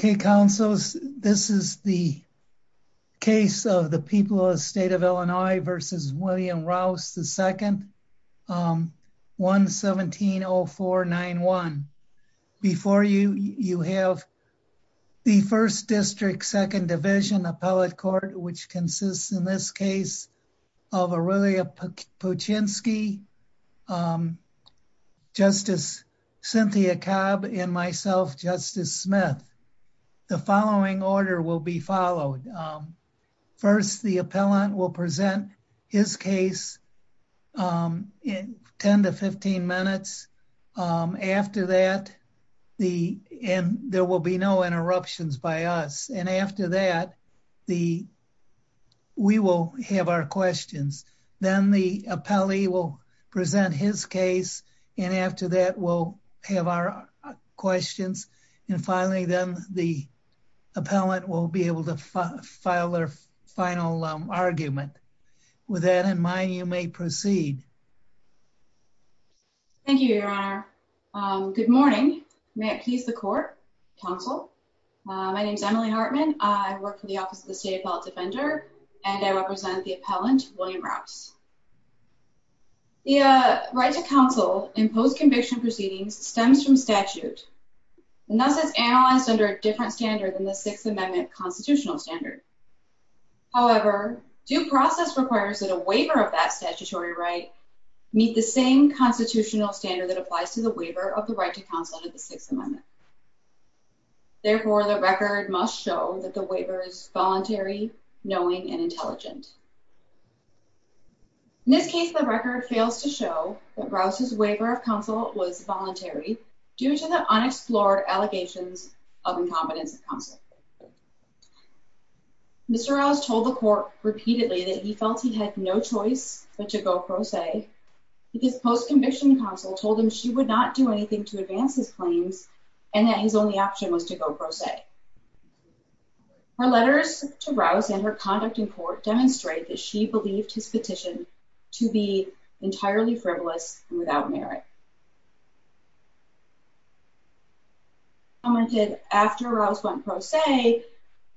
Okay, Councilors, this is the case of the people of the State of Illinois v. William Rouse II-1-17-0491. Before you, you have the 1st District, 2nd Division Appellate Court, which consists, in this case, of Aurelia Puchinski, Justice Cynthia Cobb, and myself, Justice Smith. The following order will be followed. First, the appellant will present his case in 10-15 minutes. After that, there will be no interruptions by us. And after that, we will have our questions. Then the appellee will present his case, and after that, we'll have our questions. And finally, then the appellant will be able to file their final argument. With that in mind, you may proceed. Thank you, Your Honor. Good morning. May it please the Court, Counsel. My name is Emily Hartman. I work for the Office of the State Appellate Defender, and I represent the appellant, William Rouse. The right to counsel in post-conviction proceedings stems from statute, and thus is analyzed under a different standard than the Sixth Amendment constitutional standard. However, due process requires that a waiver of that statutory right meet the same constitutional standard that applies to the waiver of the right to counsel under the Sixth Amendment. Therefore, the record must show that the waiver is voluntary, knowing, and intelligent. In this case, the record fails to show that Rouse's waiver of counsel was voluntary due to the unexplored allegations of incompetence of counsel. Mr. Rouse told the Court repeatedly that he felt he had no choice but to go pro se, but his post-conviction counsel told him she would not do anything to advance his claims and that his only option was to go pro se. Her letters to Rouse and her conduct in court demonstrate that she believed his petition to be entirely frivolous and without merit. She commented after Rouse went pro se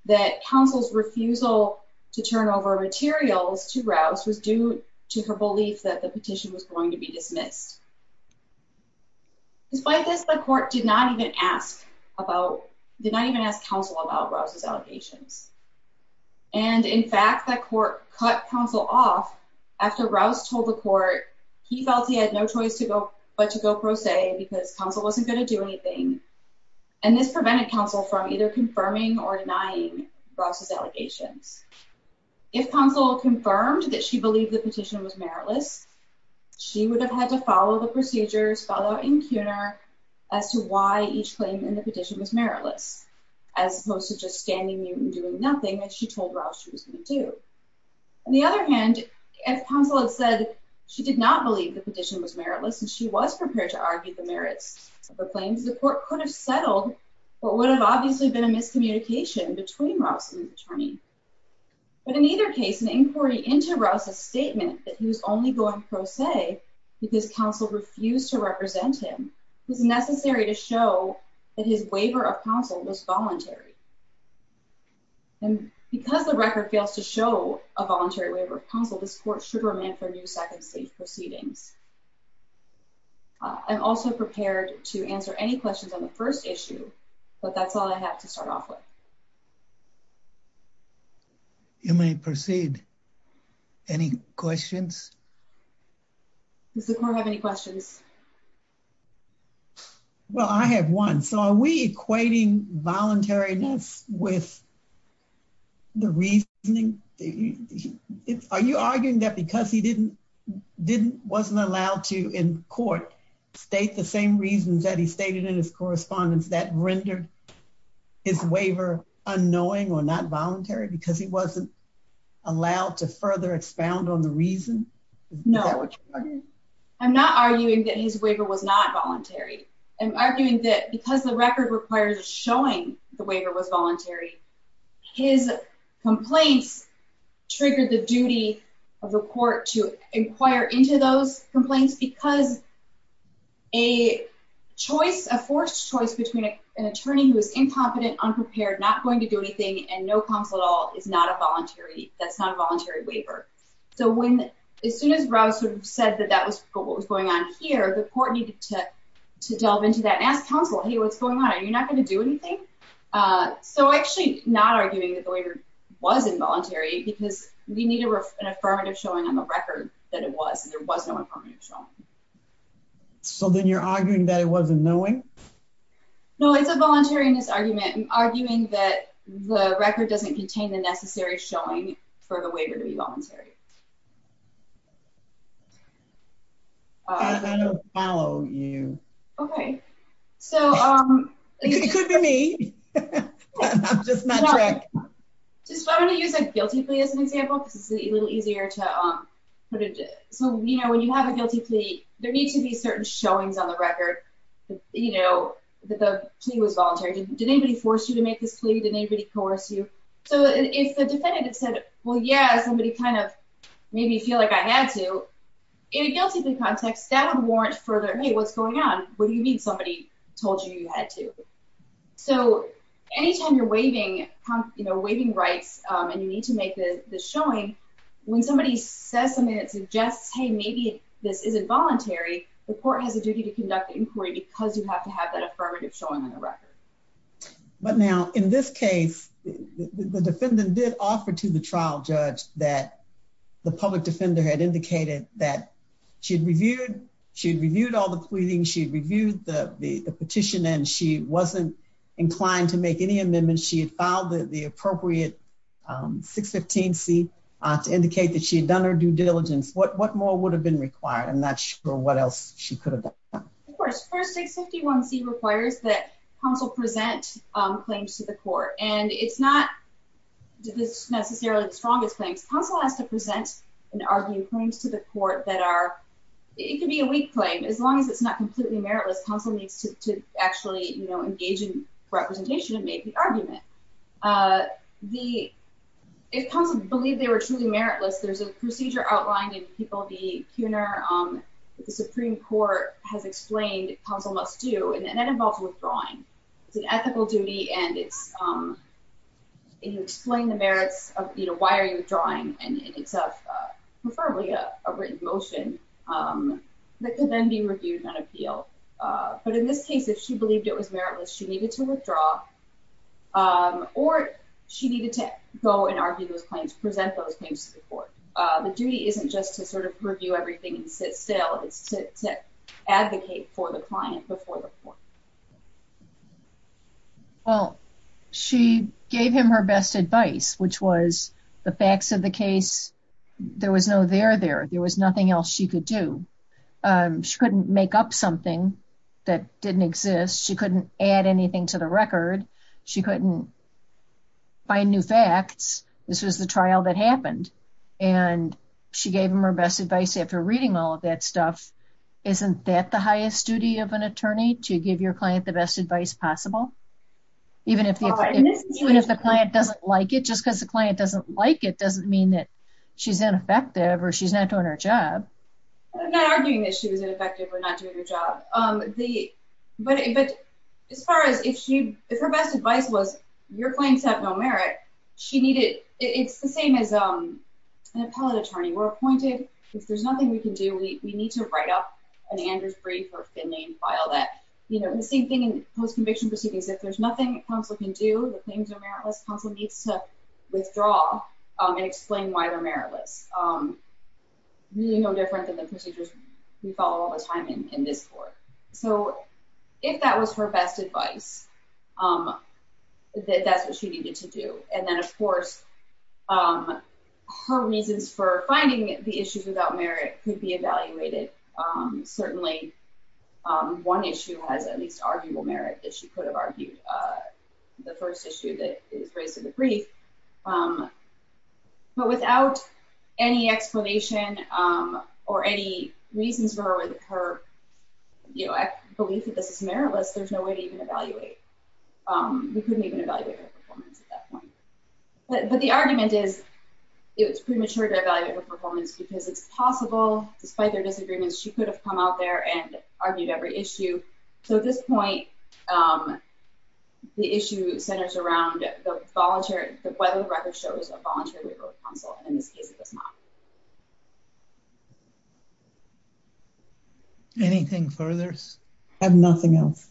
that counsel's refusal to turn over materials to Rouse was due to her belief that the petition was going to be dismissed. Despite this, the Court did not even ask counsel about Rouse's allegations. And, in fact, the Court cut counsel off after Rouse told the Court he felt he had no choice but to go pro se because counsel wasn't going to do anything, and this prevented counsel from either confirming or denying Rouse's allegations. If counsel confirmed that she believed the petition was meritless, she would have had to follow the procedures, follow out in cuner, as to why each claim in the petition was meritless, as opposed to just standing there and doing nothing that she told Rouse she was going to do. On the other hand, if counsel had said she did not believe the petition was meritless and she was prepared to argue the merits of her claims, the Court could have settled what would have obviously been a miscommunication between Rouse and the attorney. But in either case, an inquiry into Rouse's statement that he was only going pro se because counsel refused to represent him was necessary to show that his waiver of counsel was voluntary. And because the record fails to show a voluntary waiver of counsel, this Court should remand for new Second Stage proceedings. I'm also prepared to answer any questions on the first issue, but that's all I have to start off with. You may proceed. Any questions? Does the Court have any questions? Well, I have one. So are we equating voluntariness with the reasoning? Are you arguing that because he wasn't allowed to, in court, state the same reasons that he stated in his correspondence that rendered his waiver unknowing or not voluntary because he wasn't allowed to further expound on the reason? No. I'm not arguing that his waiver was not voluntary. I'm arguing that because the record requires showing the waiver was voluntary, his complaints triggered the duty of the Court to inquire into those complaints because a forced choice between an attorney who is incompetent, unprepared, not going to do anything, and no counsel at all is not a voluntary waiver. So as soon as Rouse sort of said that that was what was going on here, the Court needed to delve into that and ask counsel, hey, what's going on? Are you not going to do anything? So I'm actually not arguing that the waiver was involuntary because we need an affirmative showing on the record that it was, and there was no affirmative showing. So then you're arguing that it was unknowing? No, it's a voluntariness argument. I'm arguing that the record doesn't contain the necessary showing for the waiver to be voluntary. I don't follow you. Okay, so... It could be me. I'm just not correct. I'm going to use a guilty plea as an example because it's a little easier to put it. So when you have a guilty plea, there need to be certain showings on the record that the plea was voluntary. Did anybody force you to make this plea? Did anybody coerce you? So if the defendant had said, well, yeah, somebody kind of made me feel like I had to, in a guilty plea context, that would warrant further, hey, what's going on? What do you mean somebody told you you had to? So anytime you're waiving rights and you need to make the showing, when somebody says something that suggests, hey, maybe this is involuntary, the court has a duty to conduct the inquiry because you have to have that affirmative showing on the record. But now, in this case, the defendant did offer to the trial judge that the public defender had indicated that she had reviewed all the pleadings, she had reviewed the petition, and she wasn't inclined to make any amendments. She had filed the appropriate 615C to indicate that she had done her due diligence. What more would have been required? I'm not sure what else she could have done. Of course. First, 651C requires that counsel present claims to the court. And it's not necessarily the strongest claims. Counsel has to present and argue claims to the court that are, it could be a weak claim. As long as it's not completely meritless, counsel needs to actually engage in representation and make the argument. If counsel believed they were truly meritless, there's a procedure outlined in People v. Kuhner that the Supreme Court has explained counsel must do, and that involves withdrawing. It's an ethical duty, and you explain the merits of why are you withdrawing, and it's preferably a written motion that can then be reviewed and appealed. But in this case, if she believed it was meritless, she needed to withdraw, or she needed to go and argue those claims, present those claims to the court. The duty isn't just to review everything and sit still. It's to advocate for the client before the court. Well, she gave him her best advice, which was the facts of the case, there was no there there. There was nothing else she could do. She couldn't make up something that didn't exist. She couldn't add anything to the record. She couldn't find new facts. This was the trial that happened, and she gave him her best advice after reading all of that stuff. Isn't that the highest duty of an attorney, to give your client the best advice possible? Even if the client doesn't like it, just because the client doesn't like it, doesn't mean that she's ineffective or she's not doing her job. I'm not arguing that she was ineffective or not doing her job. But as far as if her best advice was, your claims have no merit, it's the same as an appellate attorney. We're appointed. If there's nothing we can do, we need to write up an Andrews brief or a Finley file. The same thing in post-conviction proceedings. If there's nothing counsel can do, the claims are meritless, counsel needs to withdraw and explain why they're meritless. Really no different than the procedures we follow all the time in this court. So if that was her best advice, that's what she needed to do. And then of course, her reasons for finding the issues without merit could be evaluated. Certainly, one issue has at least arguable merit that she could have argued. The first issue that is raised in the brief. But without any explanation or any reasons for her, I believe that this is meritless, there's no way to even evaluate. We couldn't even evaluate her performance at that point. But the argument is, it was premature to evaluate her performance because it's possible, despite their disagreements, she could have come out there and argued every issue. So at this point, the issue centers around whether the record shows a voluntary waiver of counsel. In this case, it does not. Anything further? I have nothing else.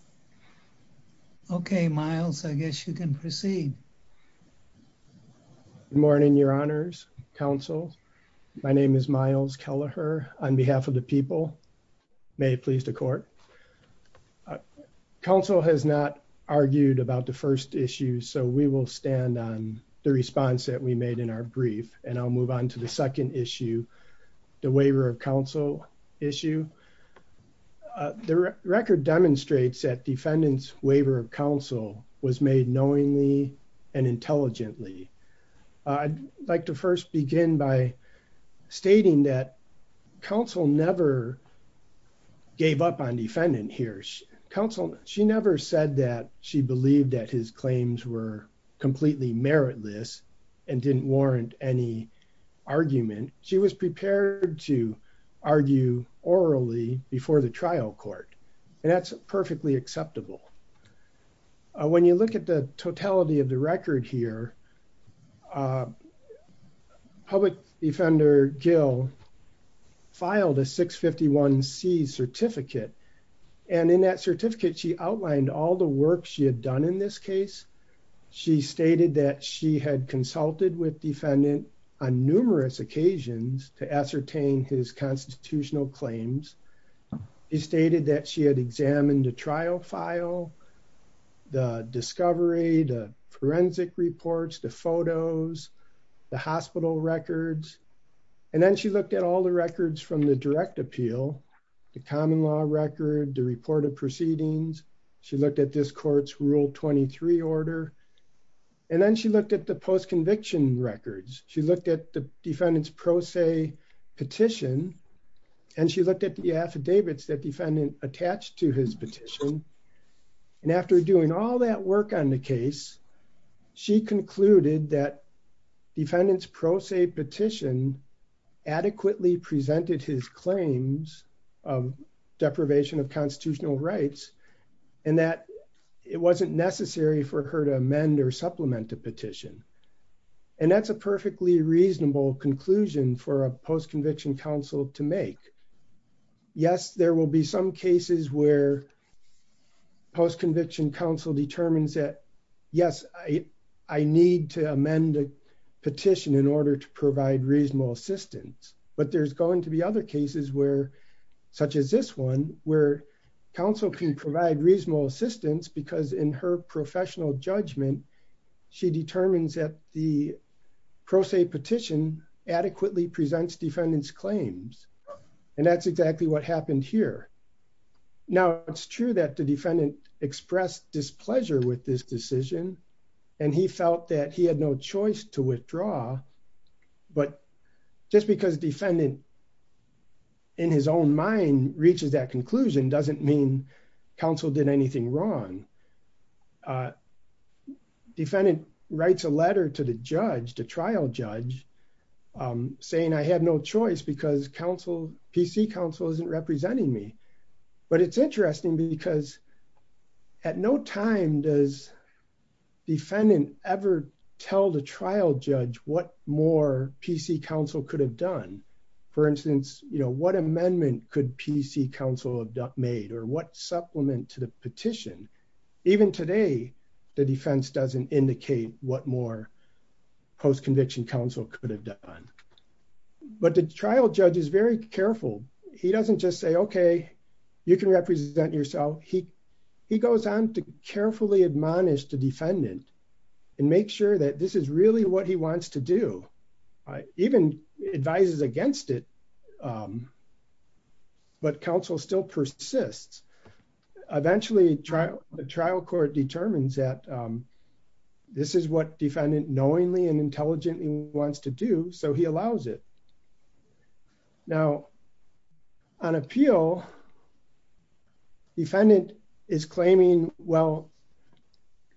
Okay, Miles, I guess you can proceed. Good morning, Your Honors, Counsel. My name is Miles Kelleher on behalf of the people. May it please the court. Counsel has not argued about the first issue. So we will stand on the response that we made in our brief. And I'll move on to the second issue, the waiver of counsel issue. The record demonstrates that defendant's waiver of counsel was made knowingly and intelligently. I'd like to first begin by stating that counsel never gave up on defendant here. Counsel, she never said that she believed that his claims were completely meritless and didn't warrant any argument. She was prepared to argue orally before the trial court. And that's perfectly acceptable. When you look at the totality of the record here, public defender Gill filed a 651 C certificate. And in that certificate, she outlined all the work she had done in this case. She stated that she had consulted with defendant on numerous occasions to ascertain his constitutional claims. He stated that she had examined the trial file, the discovery, the forensic reports, the photos, the hospital records. And then she looked at all the records from the direct appeal, the common law record, the report of proceedings. She looked at this court's Rule 23 order. And then she looked at the post conviction records. She looked at the defendant's pro se petition. And she looked at the affidavits that defendant attached to his petition. And after doing all that work on the case, she concluded that defendant's pro se petition adequately presented his claims of deprivation of constitutional rights. And that it wasn't necessary for her to amend or supplement a petition. And that's a perfectly reasonable conclusion for a post conviction counsel to make. Yes, there will be some cases where post conviction counsel determines that, yes, I need to amend a petition in order to provide reasonable assistance. But there's going to be other cases where, such as this one, where counsel can provide reasonable assistance because in her professional judgment, she determines that the pro se petition adequately presents defendant's claims. And that's exactly what happened here. Now, it's true that the defendant expressed displeasure with this decision. And he felt that he had no choice to withdraw. But just because defendant, in his own mind, reaches that conclusion doesn't mean counsel did anything wrong. Defendant writes a letter to the judge, the trial judge, saying I had no choice because counsel, PC counsel isn't representing me. But it's interesting because at no time does defendant ever tell the trial judge what more PC counsel could have done. For instance, you know what amendment could PC counsel have made or what supplement to the petition. Even today, the defense doesn't indicate what more post conviction counsel could have done. But the trial judge is very careful. He doesn't just say, okay, you can represent yourself. He goes on to carefully admonish the defendant and make sure that this is really what he wants to do. Even advises against it. But counsel still persists. Eventually, the trial court determines that this is what defendant knowingly and intelligently wants to do so he allows it. Now, on appeal, defendant is claiming, well,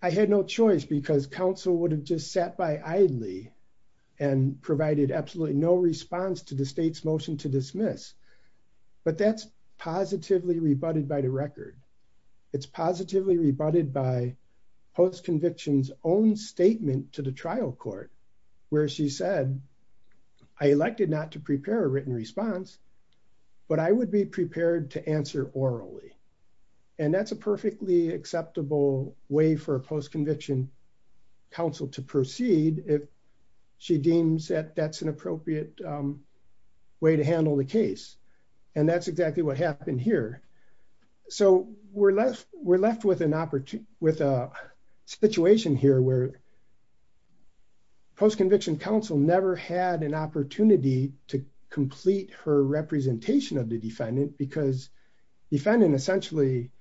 I had no choice because counsel would have just sat by idly and provided absolutely no response to the state's motion to dismiss. But that's positively rebutted by the record. It's positively rebutted by post convictions own statement to the trial court, where she said, I elected not to prepare a written response, but I would be prepared to answer orally. And that's a perfectly acceptable way for a post conviction counsel to proceed if she deems that that's an appropriate way to handle the case. And that's exactly what happened here. So we're left with a situation here where post conviction counsel never had an opportunity to complete her representation of the defendant because defendant essentially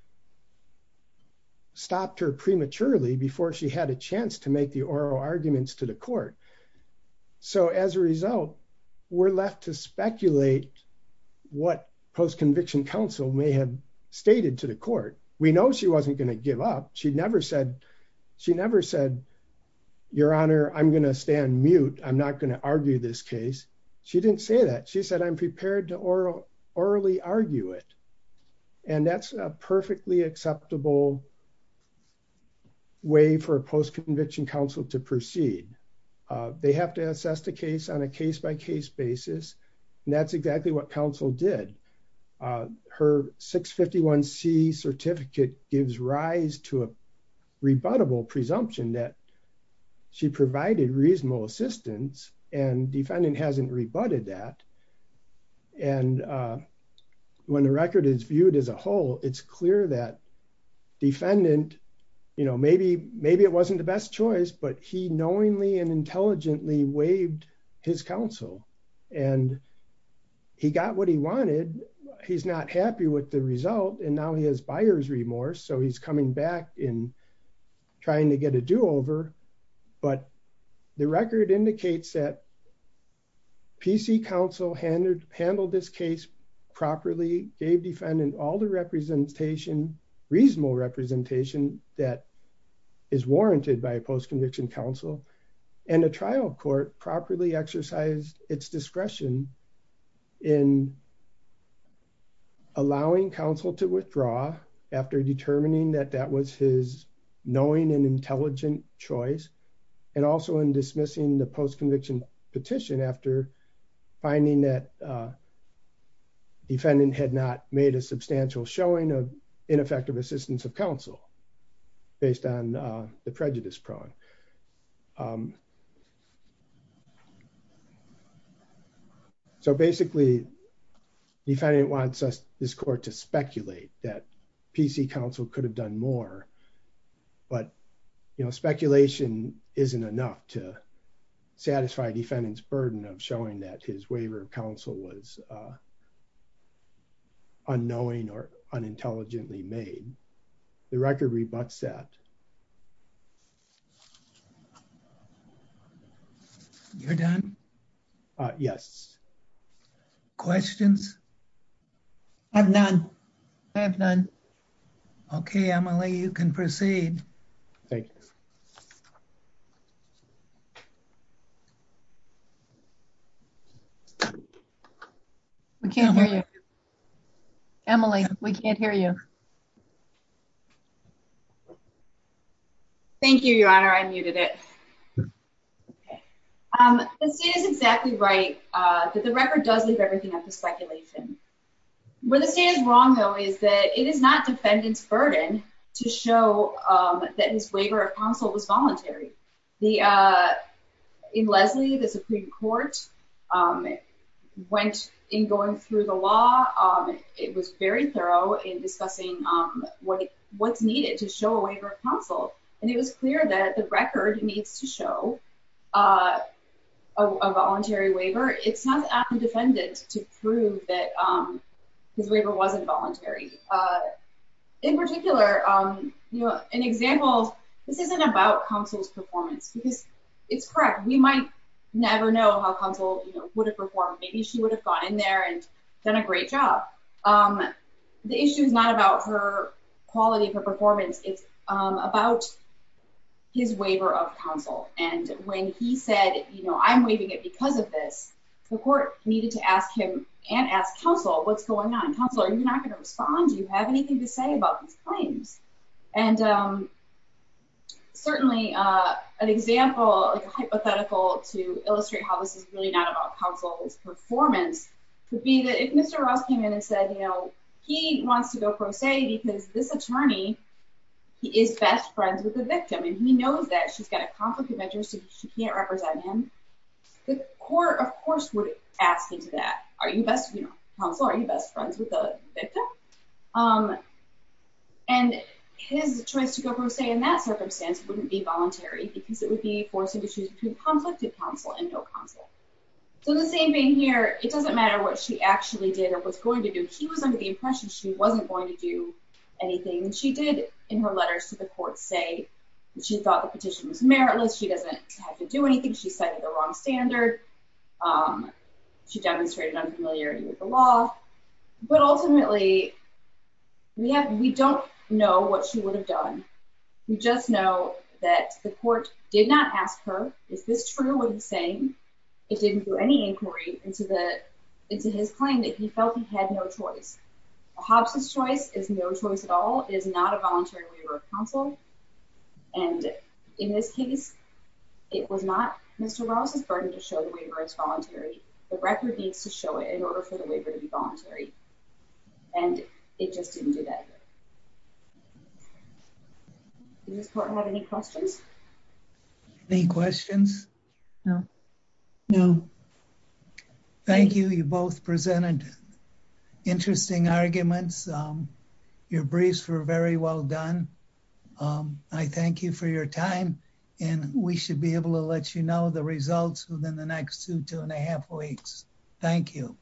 stopped her prematurely before she had a chance to make the oral arguments to the court. So as a result, we're left to speculate what post conviction counsel may have stated to the court. We know she wasn't going to give up. She never said, she never said, Your Honor, I'm going to stand mute. I'm not going to argue this case. She didn't say that. She said, I'm prepared to oral orally argue it. And that's a perfectly acceptable way for post conviction counsel to proceed. They have to assess the case on a case by case basis. And that's exactly what counsel did. Her 651 C certificate gives rise to a rebuttable presumption that she provided reasonable assistance and defendant hasn't rebutted that. And when the record is viewed as a whole, it's clear that defendant, you know, maybe, maybe it wasn't the best choice, but he knowingly and intelligently waived his counsel and he got what he wanted. He's not happy with the result. And now he has buyer's remorse. So he's coming back in trying to get a do over, but the record indicates that PC counsel handled this case properly, gave defendant all the representation, reasonable representation that is warranted by a post conviction counsel and a trial court properly exercised its discretion in finding that defendant had not made a substantial showing of ineffective assistance of counsel based on the prejudice prong. So basically, the defendant wants this court to speculate that PC counsel could have done more. But, you know, speculation isn't enough to satisfy defendant's burden of showing that his waiver of counsel was unknowing or unintelligently made. The record rebutts that. So I think that's all I have to say. You're done. Yes. Questions. I've done. I've done. Okay, Emily, you can proceed. We can't hear you. Emily, we can't hear you. I muted it. Okay, this is exactly right. The record does leave everything up to speculation. Where the state is wrong, though, is that it is not defendant's burden to show that his waiver of counsel was voluntary. In Leslie, the Supreme Court went in going through the law. It was very thorough in discussing what's needed to show a waiver of counsel. And it was clear that the record needs to show a voluntary waiver. It's not the defendant to prove that his waiver wasn't voluntary. In particular, you know, an example. This isn't about counsel's performance because it's correct. We might never know how counsel would have performed. Maybe she would have gone in there and done a great job. The issue is not about her quality of her performance. It's about his waiver of counsel. And when he said, you know, I'm waiving it because of this, the court needed to ask him and ask counsel, what's going on? Counsel, are you not going to respond? Do you have anything to say about these claims? And certainly an example, a hypothetical to illustrate how this is really not about counsel's performance, could be that if Mr. Ross came in and said, you know, he wants to go pro se because this attorney is best friends with the victim and he knows that she's got a conflict of interest and she can't represent him, the court, of course, would ask him to that. And his choice to go pro se in that circumstance wouldn't be voluntary because it would be forcing issues between conflicted counsel and no counsel. So the same thing here, it doesn't matter what she actually did or was going to do. She was under the impression she wasn't going to do anything. She did in her letters to the court say she thought the petition was meritless. She doesn't have to do anything. She cited the wrong standard. She demonstrated unfamiliarity with the law. But ultimately, we don't know what she would have done. We just know that the court did not ask her, is this true what he's saying? It didn't do any inquiry into his claim that he felt he had no choice. Hobbs' choice is no choice at all, is not a voluntary waiver of counsel. And in this case, it was not Mr. Ross' burden to show the waiver as voluntary. The record needs to show it in order for the waiver to be voluntary. And it just didn't do that. Does this court have any questions? Any questions? No. Thank you. You both presented interesting arguments. Your briefs were very well done. I thank you for your time. And we should be able to let you know the results within the next two, two and a half weeks. Thank you.